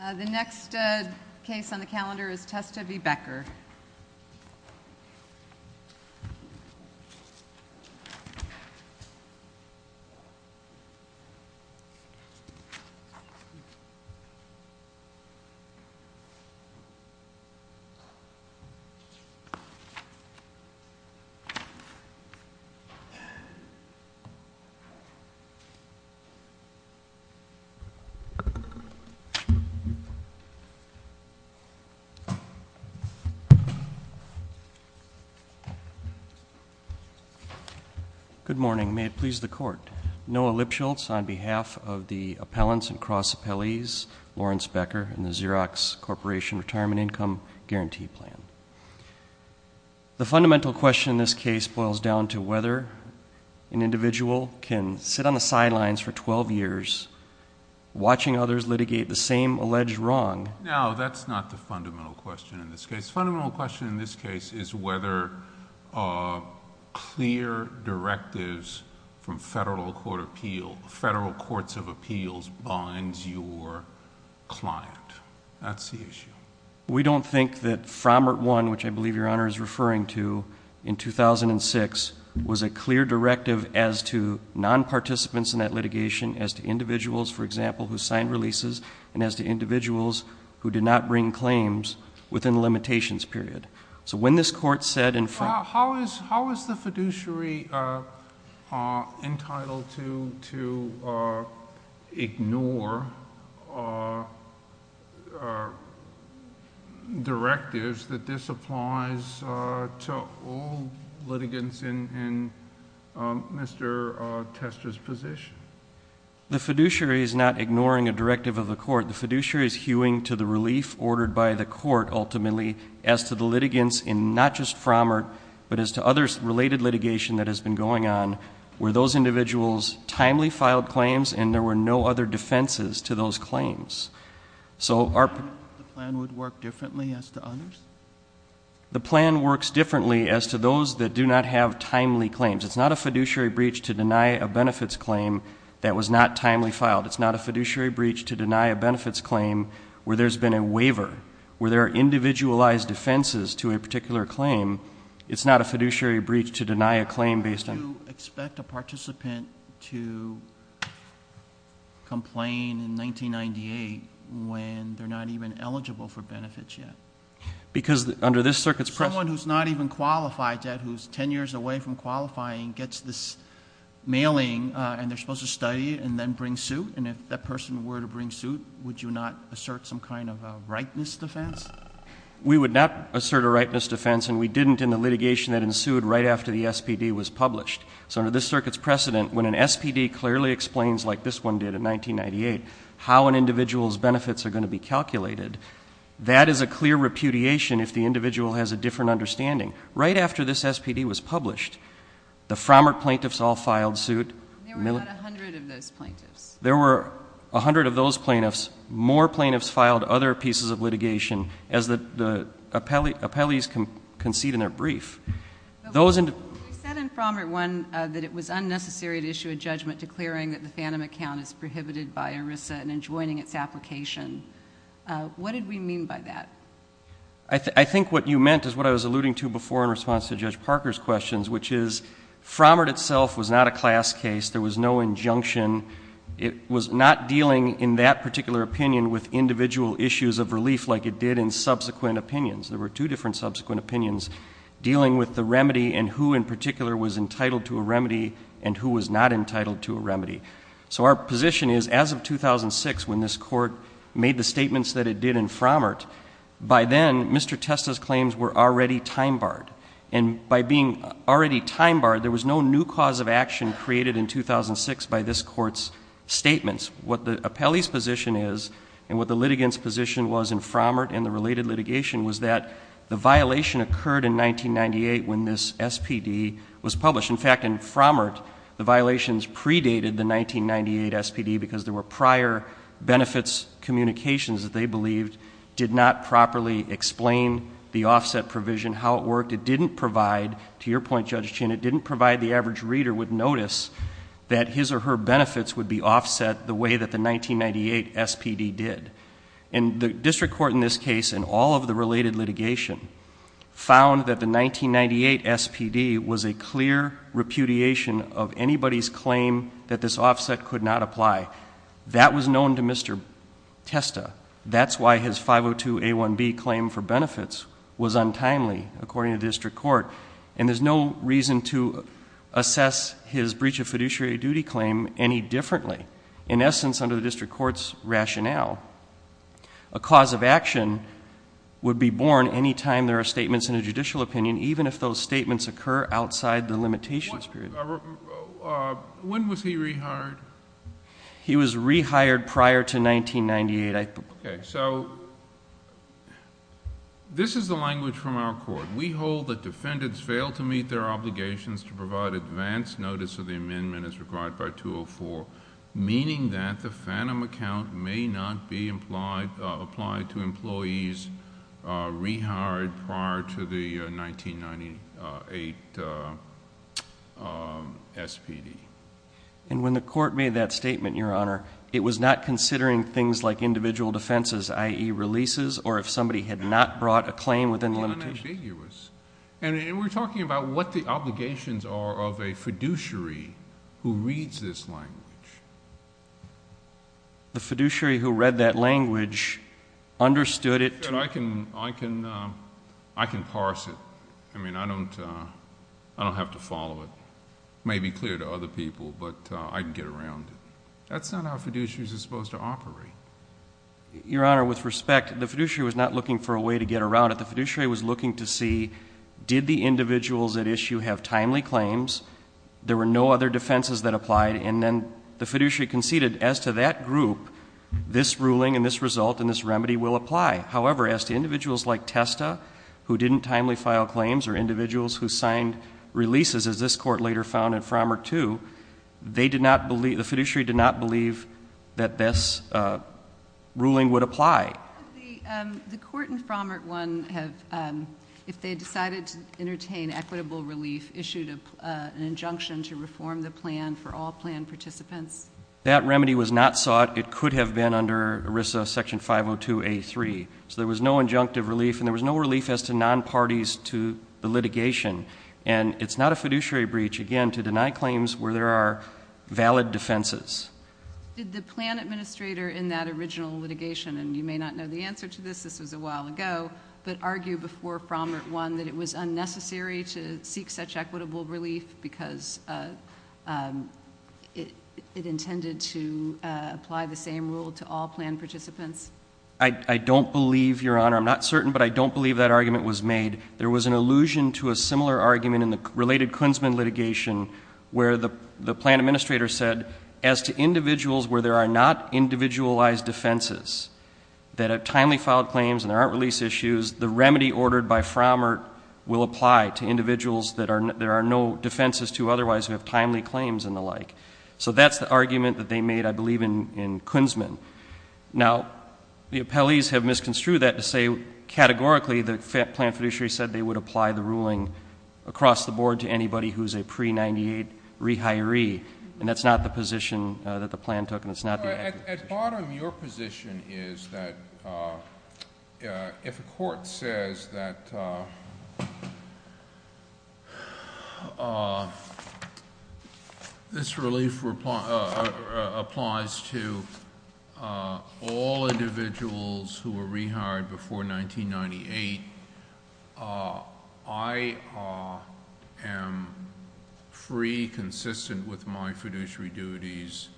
The next case on the calendar is Testa v. Becker. Good morning. May it please the Court, Noah Lipschultz on behalf of the appellants and cross-appellees, Lawrence Becker and the Xerox Corporation Retirement Income Guarantee Plan. The fundamental question in this case boils down to whether an individual can sit on the litigation and litigate the same alleged wrong. No, that's not the fundamental question in this case. The fundamental question in this case is whether clear directives from federal court of appeals, federal courts of appeals binds your client. That's the issue. We don't think that Framert I, which I believe Your Honor is referring to, in 2006 was a clear directive as to non-participants in that litigation, as to individuals, for example, who signed releases, and as to individuals who did not bring claims within the limitations period. So when this Court said in Framert Well, how is the fiduciary entitled to ignore directives that this applies to all litigants in Mr. Testa's position? The fiduciary is not ignoring a directive of the court. The fiduciary is hewing to the relief ordered by the court, ultimately, as to the litigants in not just Framert, but as to other related litigation that has been going on where those individuals timely filed claims and there were no other defenses to those claims. So the plan would work differently as to others? The plan works differently as to those that do not have timely claims. It's not a fiduciary breach to deny a benefits claim that was not timely filed. It's not a fiduciary breach to deny a benefits claim where there's been a waiver, where there are individualized defenses to a particular claim. It's not a fiduciary breach to deny a claim based on How do you expect a participant to complain in 1998 when they're not even eligible for benefits yet? Because under this circuit's precedent someone who's not even qualified yet, who's 10 years away from qualifying, gets this mailing, and they're supposed to study it and then bring suit, and if that person were to bring suit, would you not assert some kind of a rightness defense? We would not assert a rightness defense, and we didn't in the litigation that ensued right after the SPD was published. So under this circuit's precedent, when an SPD clearly explains, like this one did in 1998, how an individual's benefits are going to be calculated, that is a clear repudiation if the individual has a different understanding. Right after this SPD was published, the Frommert plaintiffs all filed suit. There were about a hundred of those plaintiffs. There were a hundred of those plaintiffs. More plaintiffs filed other pieces of litigation as the appellees concede in their brief. We said in Frommert 1 that it was unnecessary to issue a judgment declaring that the FANTOM account is prohibited by ERISA and enjoining its application. What did we mean by that? I think what you meant is what I was alluding to before in response to Judge Parker's questions, which is Frommert itself was not a class case. There was no injunction. It was not dealing in that particular opinion with individual issues of relief like it did in subsequent opinions. There were two different subsequent opinions dealing with the remedy and who in particular was entitled to a remedy and who was not entitled to a remedy. So our position is as of 2006 when this court made the statements that it did in Frommert, by then Mr. Testa's claims were already time barred. And by being already time barred, there was no new cause of action created in 2006 by this court's statements. What the appellee's position is and what the litigant's position was in Frommert and the related litigation was that the violation occurred in 1998 when this SPD was published. In fact, in Frommert, the violations predated the 1998 SPD because there were prior benefits communications that they believed did not properly explain the offset provision, how it worked. It didn't provide, to your point Judge Chin, it didn't provide the average reader with notice that his or her benefits would be offset the way that the 1998 SPD did. And the district court in this case and all of the related litigation found that the 1998 SPD was a clear repudiation of anybody's claim that this offset could not apply. That was known to Mr. Testa. That's why his 502A1B claim for benefits was untimely, according to district court. And there's no reason to assess his breach of fiduciary duty claim any differently. In essence, under the district court's rationale, a cause of action would be born any time there are statements in a judicial opinion, even if those statements occur outside the limitations period. When was he rehired? He was rehired prior to 1998. Okay, so this is the language from our court. We hold that defendants fail to meet their obligations to provide advance notice of the amendment as required by 204. Meaning that the FANM account may not be applied to employees rehired prior to the 1998 SPD. And when the court made that statement, Your Honor, it was not considering things like individual defenses, i.e. releases, or if somebody had not brought a claim within the limitations. And we're talking about what the obligations are of a fiduciary who reads this language. The fiduciary who read that language understood it. I can parse it. I mean, I don't have to follow it. It may be clear to other people, but I can get around it. That's not how fiduciaries are supposed to operate. Your Honor, with respect, the fiduciary was not looking for a way to get around it. The fiduciary was looking to see, did the individuals at issue have timely claims? There were no other defenses that applied, and then the fiduciary conceded, as to that group, this ruling and this result and this remedy will apply. However, as to individuals like Testa, who didn't timely file claims, or individuals who signed releases, as this court later found in Frommert II, the fiduciary did not believe that this ruling would apply. The court in Frommert I, if they decided to entertain equitable relief, issued an injunction to reform the plan for all plan participants. That remedy was not sought. It could have been under ERISA section 502A3. So there was no injunctive relief, and there was no relief as to non-parties to the litigation. And it's not a fiduciary breach, again, to deny claims where there are valid defenses. Did the plan administrator in that original litigation, and you may not know the answer to this, this was a while ago, but argue before Frommert I that it was unnecessary to seek such equitable relief because it intended to apply the same rule to all plan participants? I don't believe, Your Honor. I'm not certain, but I don't believe that argument was made. There was an allusion to a similar argument in the related Kunzman litigation, where the plan administrator said, as to individuals where there are not individualized defenses, that have timely filed claims and there aren't release issues, the remedy ordered by Frommert will apply to individuals that there are no defenses to, otherwise, who have timely claims and the like. So that's the argument that they made, I believe, in Kunzman. Now, the appellees have misconstrued that to say, categorically, the plan fiduciary said they would apply the ruling across the board to anybody who's a pre-98 rehiree. And that's not the position that the plan took, and it's not the- At the bottom of your position is that if a court says that this relief applies to all individuals who were rehired before 1998, I am free, consistent with my fiduciary duties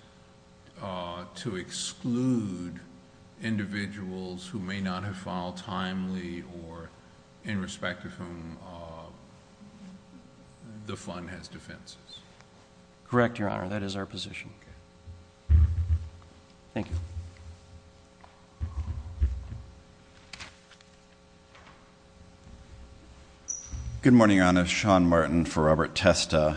to exclude individuals who may not have filed timely or in respect to whom the fund has defenses? Correct, Your Honor. That is our position. Okay. Thank you. Good morning, Your Honor. Sean Martin for Robert Testa.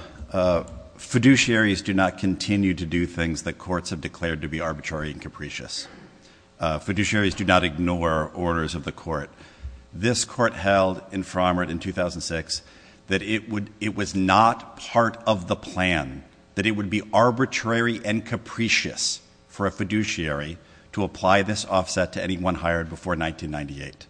Fiduciaries do not continue to do things that courts have declared to be arbitrary and capricious. Fiduciaries do not ignore orders of the court. This court held in Frommert in 2006 that it was not part of the plan, that it would be arbitrary and capricious for a fiduciary to apply this offset to anyone hired before 1998.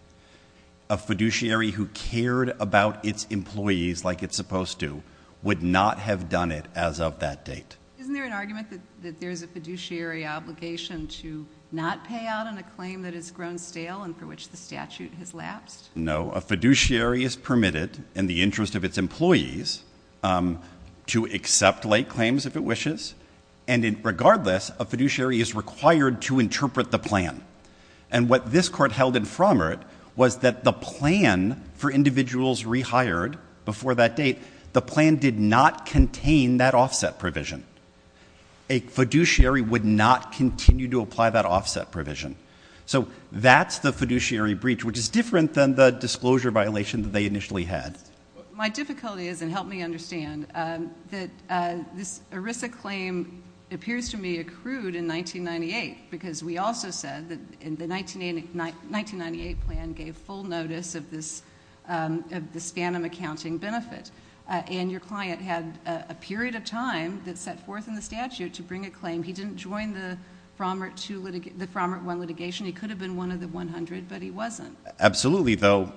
A fiduciary who cared about its employees like it's supposed to would not have done it as of that date. Isn't there an argument that there's a fiduciary obligation to not pay out on a claim that has grown stale and for which the statute has lapsed? No. A fiduciary is permitted in the interest of its employees to accept late claims if it wishes, and regardless, a fiduciary is required to interpret the plan. And what this court held in Frommert was that the plan for individuals rehired before that date, the plan did not contain that offset provision. A fiduciary would not continue to apply that offset provision. So that's the fiduciary breach, which is different than the disclosure violation that they initially had. My difficulty is, and help me understand, that this ERISA claim appears to me accrued in 1998 because we also said that the 1998 plan gave full notice of this phantom accounting benefit, and your client had a period of time that set forth in the statute to bring a claim. He didn't join the Frommert I litigation. He could have been one of the 100, but he wasn't. Absolutely, though.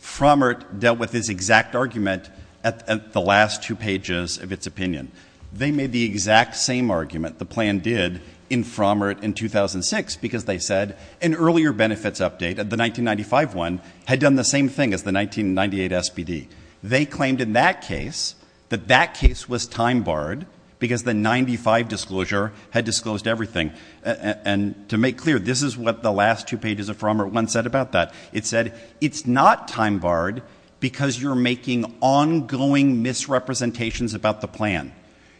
Frommert dealt with this exact argument at the last two pages of its opinion. They made the exact same argument the plan did in Frommert in 2006 because they said an earlier benefits update, the 1995 one, had done the same thing as the 1998 SBD. They claimed in that case that that case was time-barred because the 1995 disclosure had disclosed everything. And to make clear, this is what the last two pages of Frommert I said about that. It said it's not time-barred because you're making ongoing misrepresentations about the plan.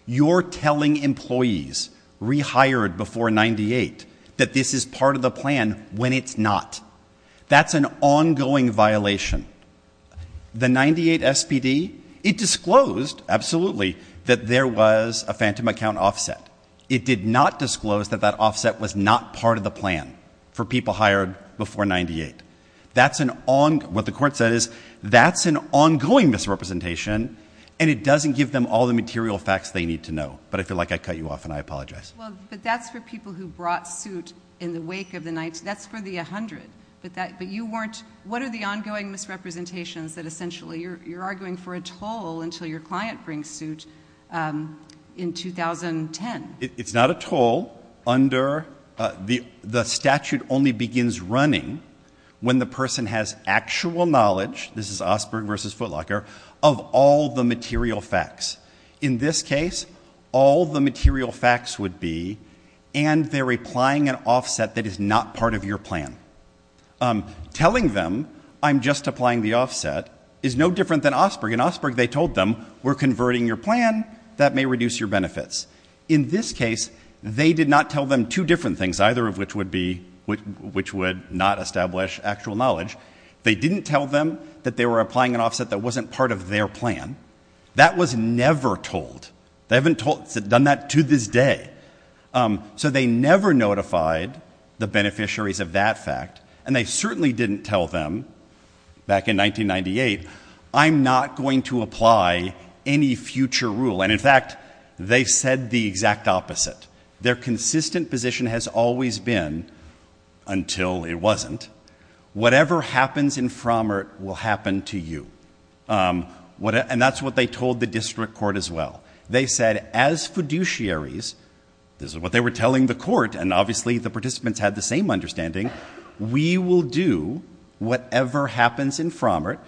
You're telling employees rehired before 1998 that this is part of the plan when it's not. That's an ongoing violation. The 1998 SBD, it disclosed, absolutely, that there was a phantom account offset. It did not disclose that that offset was not part of the plan for people hired before 1998. What the court said is that's an ongoing misrepresentation, and it doesn't give them all the material facts they need to know. But I feel like I cut you off, and I apologize. But that's for people who brought suit in the wake of the 19—that's for the 100. But you weren't—what are the ongoing misrepresentations that essentially you're arguing for a toll until your client brings suit in 2010? It's not a toll under—the statute only begins running when the person has actual knowledge— this is Osberg v. Footlocker—of all the material facts. In this case, all the material facts would be, and they're applying an offset that is not part of your plan. Telling them, I'm just applying the offset, is no different than Osberg. In Osberg, they told them, we're converting your plan. That may reduce your benefits. In this case, they did not tell them two different things, either of which would be—which would not establish actual knowledge. They didn't tell them that they were applying an offset that wasn't part of their plan. That was never told. They haven't done that to this day. So they never notified the beneficiaries of that fact. And they certainly didn't tell them, back in 1998, I'm not going to apply any future rule. And in fact, they said the exact opposite. Their consistent position has always been—until it wasn't—whatever happens in Frommert will happen to you. And that's what they told the district court as well. They said, as fiduciaries—this is what they were telling the court, and obviously the participants had the same understanding— we will do whatever happens in Frommert,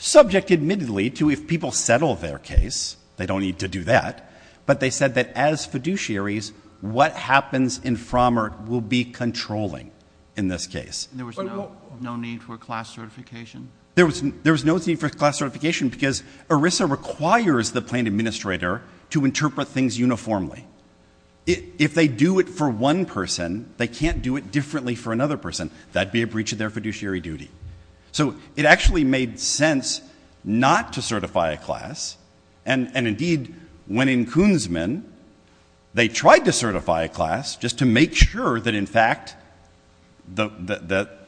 subject admittedly to if people settle their case. They don't need to do that. But they said that as fiduciaries, what happens in Frommert will be controlling in this case. There was no need for class certification? There was no need for class certification because ERISA requires the plaintiff administrator to interpret things uniformly. If they do it for one person, they can't do it differently for another person. That would be a breach of their fiduciary duty. So it actually made sense not to certify a class. And indeed, when in Koonsman, they tried to certify a class just to make sure that in fact the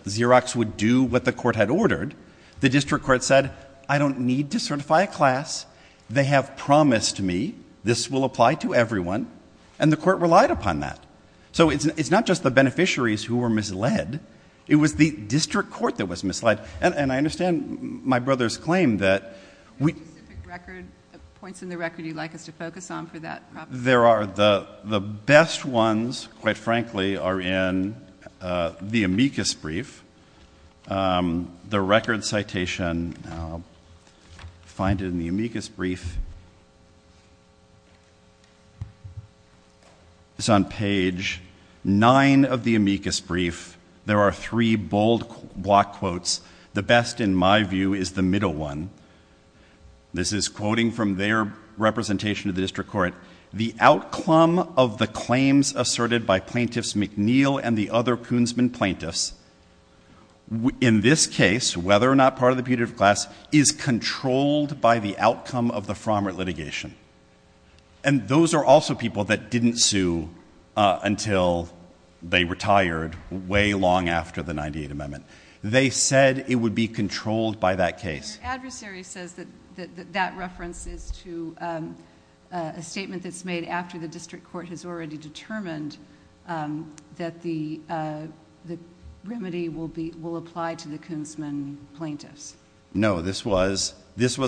Xerox would do what the court had ordered, the district court said, I don't need to certify a class. They have promised me this will apply to everyone. And the court relied upon that. So it's not just the beneficiaries who were misled. It was the district court that was misled. And I understand my brother's claim that we... The specific points in the record you'd like us to focus on for that? The best ones, quite frankly, are in the amicus brief. The record citation, find it in the amicus brief. It's on page 9 of the amicus brief. There are three bold block quotes. The best, in my view, is the middle one. This is quoting from their representation of the district court. The outcome of the claims asserted by Plaintiffs McNeil and the other Koonsman plaintiffs, in this case, whether or not part of the putative class, is controlled by the outcome of the fromer litigation. And those are also people that didn't sue until they retired way long after the 98th Amendment. They said it would be controlled by that case. Your adversary says that that reference is to a statement that's made after the district court has already determined that the remedy will apply to the Koonsman plaintiffs. No, this was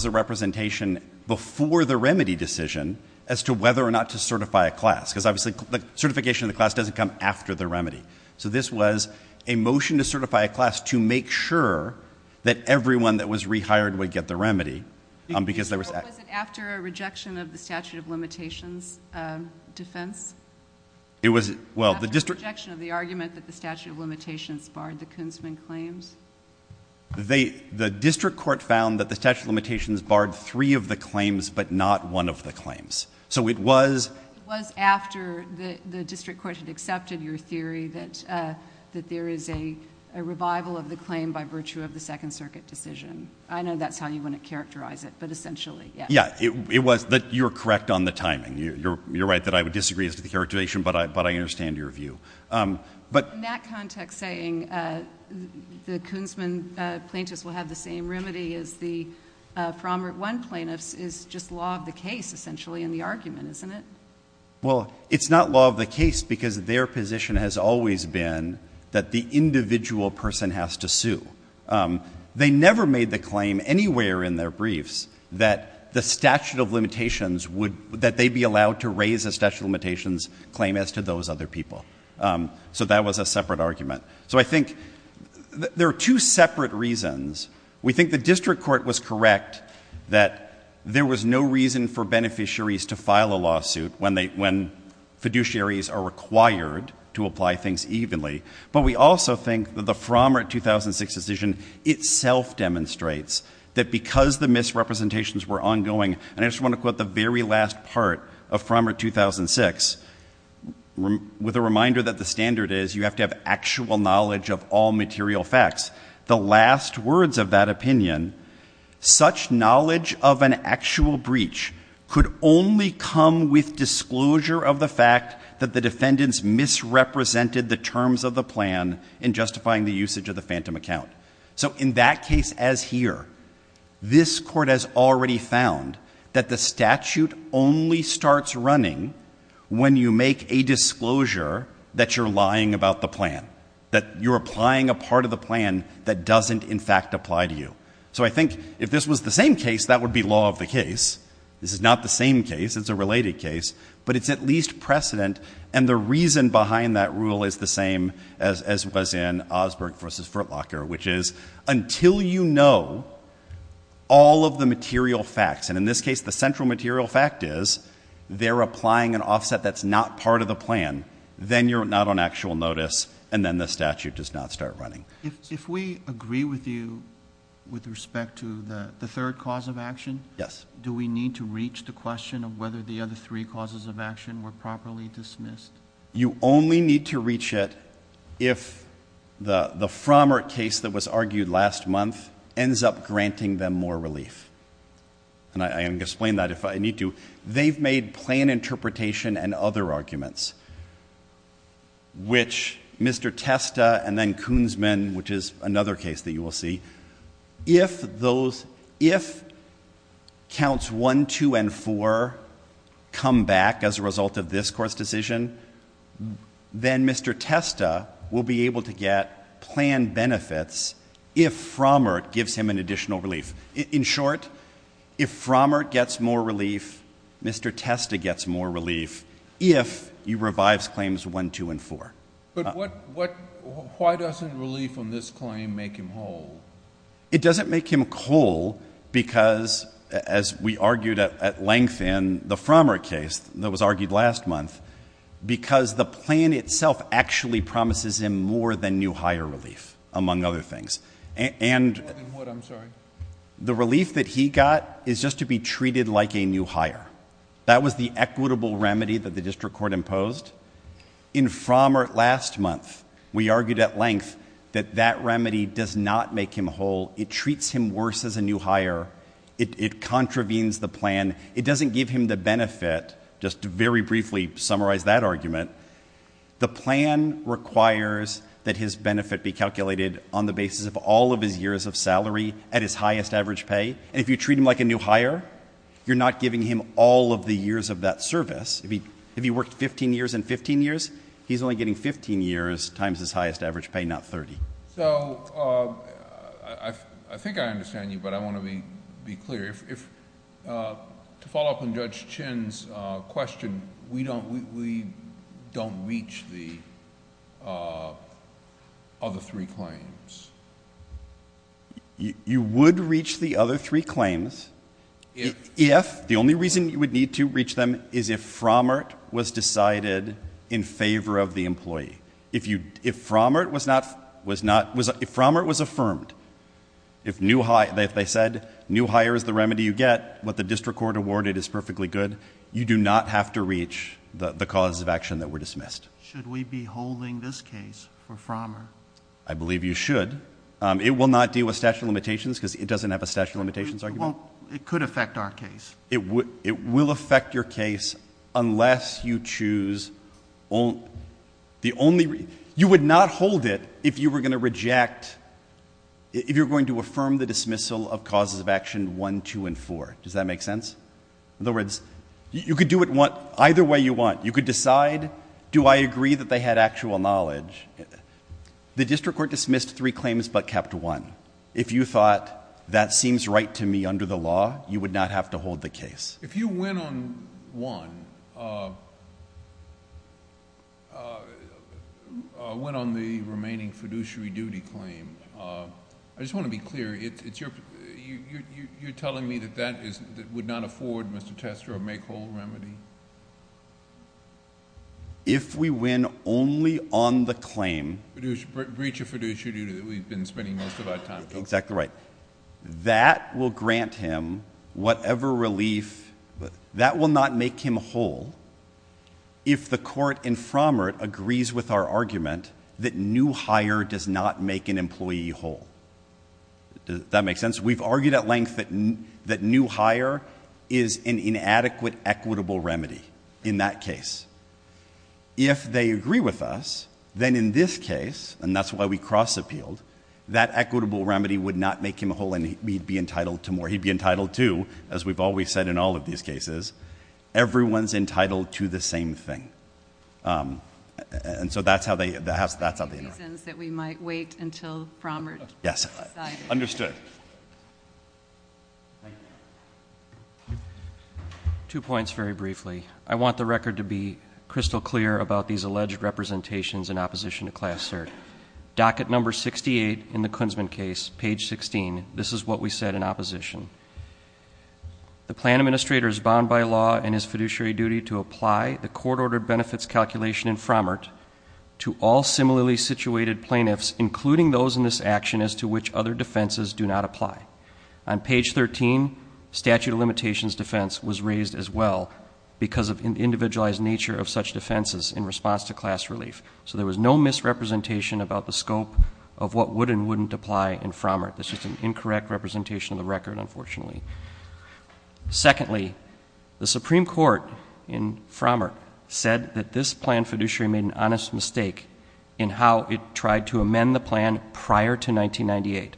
a representation before the remedy decision as to whether or not to certify a class. Because, obviously, the certification of the class doesn't come after the remedy. So this was a motion to certify a class to make sure that everyone that was rehired would get the remedy. Was it after a rejection of the statute of limitations defense? It was... After a rejection of the argument that the statute of limitations barred the Koonsman claims? The district court found that the statute of limitations barred three of the claims, but not one of the claims. So it was... It was after the district court had accepted your theory that there is a revival of the claim by virtue of the Second Circuit decision. I know that's how you want to characterize it, but essentially, yes. Yeah, it was that you're correct on the timing. You're right that I would disagree as to the characterization, but I understand your view. In that context, saying the Koonsman plaintiffs will have the same remedy as the Frommer 1 plaintiffs is just law of the case, essentially, in the argument, isn't it? Well, it's not law of the case because their position has always been that the individual person has to sue. They never made the claim anywhere in their briefs that the statute of limitations would... That they'd be allowed to raise a statute of limitations claim as to those other people. So that was a separate argument. So I think there are two separate reasons. We think the district court was correct that there was no reason for beneficiaries to file a lawsuit when fiduciaries are required to apply things evenly. But we also think that the Frommer 2006 decision itself demonstrates that because the misrepresentations were ongoing... And I just want to quote the very last part of Frommer 2006 with a reminder that the standard is you have to have actual knowledge of all material facts. The last words of that opinion, such knowledge of an actual breach could only come with disclosure of the fact that the defendants misrepresented the terms of the plan in justifying the usage of the phantom account. So in that case as here, this court has already found that the statute only starts running when you make a disclosure that you're lying about the plan. That you're applying a part of the plan that doesn't in fact apply to you. So I think if this was the same case, that would be law of the case. This is not the same case. It's a related case. But it's at least precedent. And the reason behind that rule is the same as was in Osberg v. Furtlocker, which is until you know all of the material facts. And in this case the central material fact is they're applying an offset that's not part of the plan. Then you're not on actual notice. And then the statute does not start running. If we agree with you with respect to the third cause of action, do we need to reach the question of whether the other three causes of action were properly dismissed? You only need to reach it if the Frommert case that was argued last month ends up granting them more relief. And I can explain that if I need to. They've made plan interpretation and other arguments, which Mr. Testa and then Koonsman, which is another case that you will see, if counts one, two, and four come back as a result of this Court's decision, then Mr. Testa will be able to get plan benefits if Frommert gives him an additional relief. In short, if Frommert gets more relief, Mr. Testa gets more relief, if he revives claims one, two, and four. But why doesn't relief on this claim make him whole? It doesn't make him whole because, as we argued at length in the Frommert case that was argued last month, because the plan itself actually promises him more than new higher relief, among other things. More than what, I'm sorry? The relief that he got is just to be treated like a new higher. That was the equitable remedy that the district court imposed. In Frommert last month, we argued at length that that remedy does not make him whole. It treats him worse as a new higher. It contravenes the plan. It doesn't give him the benefit, just to very briefly summarize that argument. The plan requires that his benefit be calculated on the basis of all of his years of salary at his highest average pay. And if you treat him like a new higher, you're not giving him all of the years of that service. If he worked 15 years and 15 years, he's only getting 15 years times his highest average pay, not 30. So I think I understand you, but I want to be clear. To follow up on Judge Chinn's question, we don't reach the other three claims. You would reach the other three claims if, the only reason you would need to reach them, is if Frommert was decided in favor of the employee. If Frommert was affirmed, if they said new higher is the remedy you get, what the district court awarded is perfectly good, you do not have to reach the cause of action that were dismissed. Should we be holding this case for Frommert? I believe you should. It will not deal with statute of limitations because it doesn't have a statute of limitations argument. It could affect our case. It will affect your case unless you choose the only, you would not hold it if you were going to reject, if you're going to affirm the dismissal of causes of action one, two, and four. Does that make sense? In other words, you could do it either way you want. You could decide, do I agree that they had actual knowledge? The district court dismissed three claims but kept one. If you thought that seems right to me under the law, you would not have to hold the case. If you win on one, win on the remaining fiduciary duty claim, I just want to be clear, you're telling me that that would not afford, Mr. Tester, a make whole remedy? If we win only on the claim. Breach of fiduciary duty that we've been spending most of our time. Exactly right. That will grant him whatever relief, that will not make him whole if the court in Frommert agrees with our argument that new hire does not make an employee whole. Does that make sense? We've argued at length that new hire is an inadequate equitable remedy in that case. If they agree with us, then in this case, and that's why we cross appealed, that equitable remedy would not make him whole and he'd be entitled to more. He'd be entitled to, as we've always said in all of these cases, everyone's entitled to the same thing. And so that's how they interact. Any reasons that we might wait until Frommert has decided. Understood. Two points very briefly. I want the record to be crystal clear about these alleged representations in opposition to class cert. Docket number 68 in the Kunzman case, page 16. This is what we said in opposition. The plan administrator is bound by law in his fiduciary duty to apply the court-ordered benefits calculation in Frommert to all similarly situated plaintiffs, including those in this action as to which other defenses do not apply. On page 13, statute of limitations defense was raised as well because of the individualized nature of such defenses in response to class relief. So there was no misrepresentation about the scope of what would and wouldn't apply in Frommert. This is an incorrect representation of the record, unfortunately. Secondly, the Supreme Court in Frommert said that this plan fiduciary made an honest mistake in how it tried to amend the plan prior to 1998.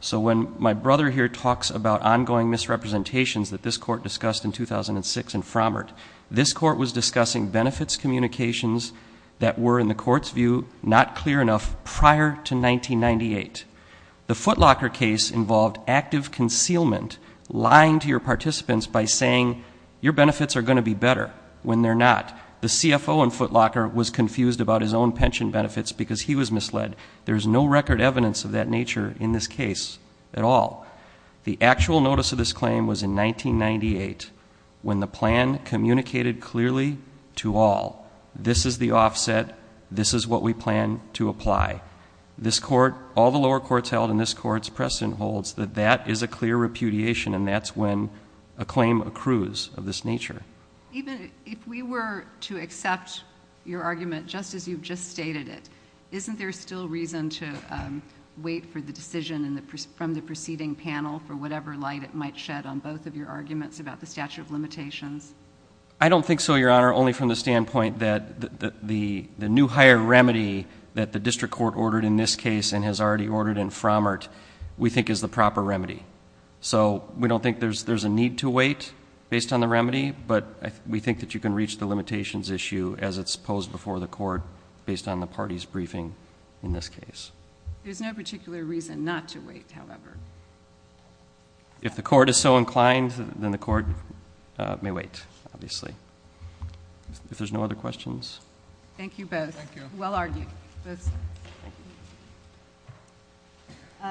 So when my brother here talks about ongoing misrepresentations that this court discussed in 2006 in Frommert, this court was discussing benefits communications that were, in the court's view, not clear enough prior to 1998. The Footlocker case involved active concealment, lying to your participants by saying, your benefits are going to be better when they're not. The CFO in Footlocker was confused about his own pension benefits because he was misled. There's no record evidence of that nature in this case at all. The actual notice of this claim was in 1998 when the plan communicated clearly to all, this is the offset, this is what we plan to apply. This court, all the lower courts held in this court's precedent holds that that is a clear repudiation and that's when a claim accrues of this nature. Even if we were to accept your argument just as you've just stated it, isn't there still reason to wait for the decision from the preceding panel for whatever light it might shed on both of your arguments about the statute of limitations? I don't think so, Your Honor, only from the standpoint that the new higher remedy that the district court ordered in this case and has already ordered in Frommert we think is the proper remedy. So we don't think there's a need to wait based on the remedy, but we think that you can reach the limitations issue as it's posed before the court based on the party's briefing in this case. There's no particular reason not to wait, however. If the court is so inclined, then the court may wait, obviously. If there's no other questions. Thank you both. Thank you. Well argued.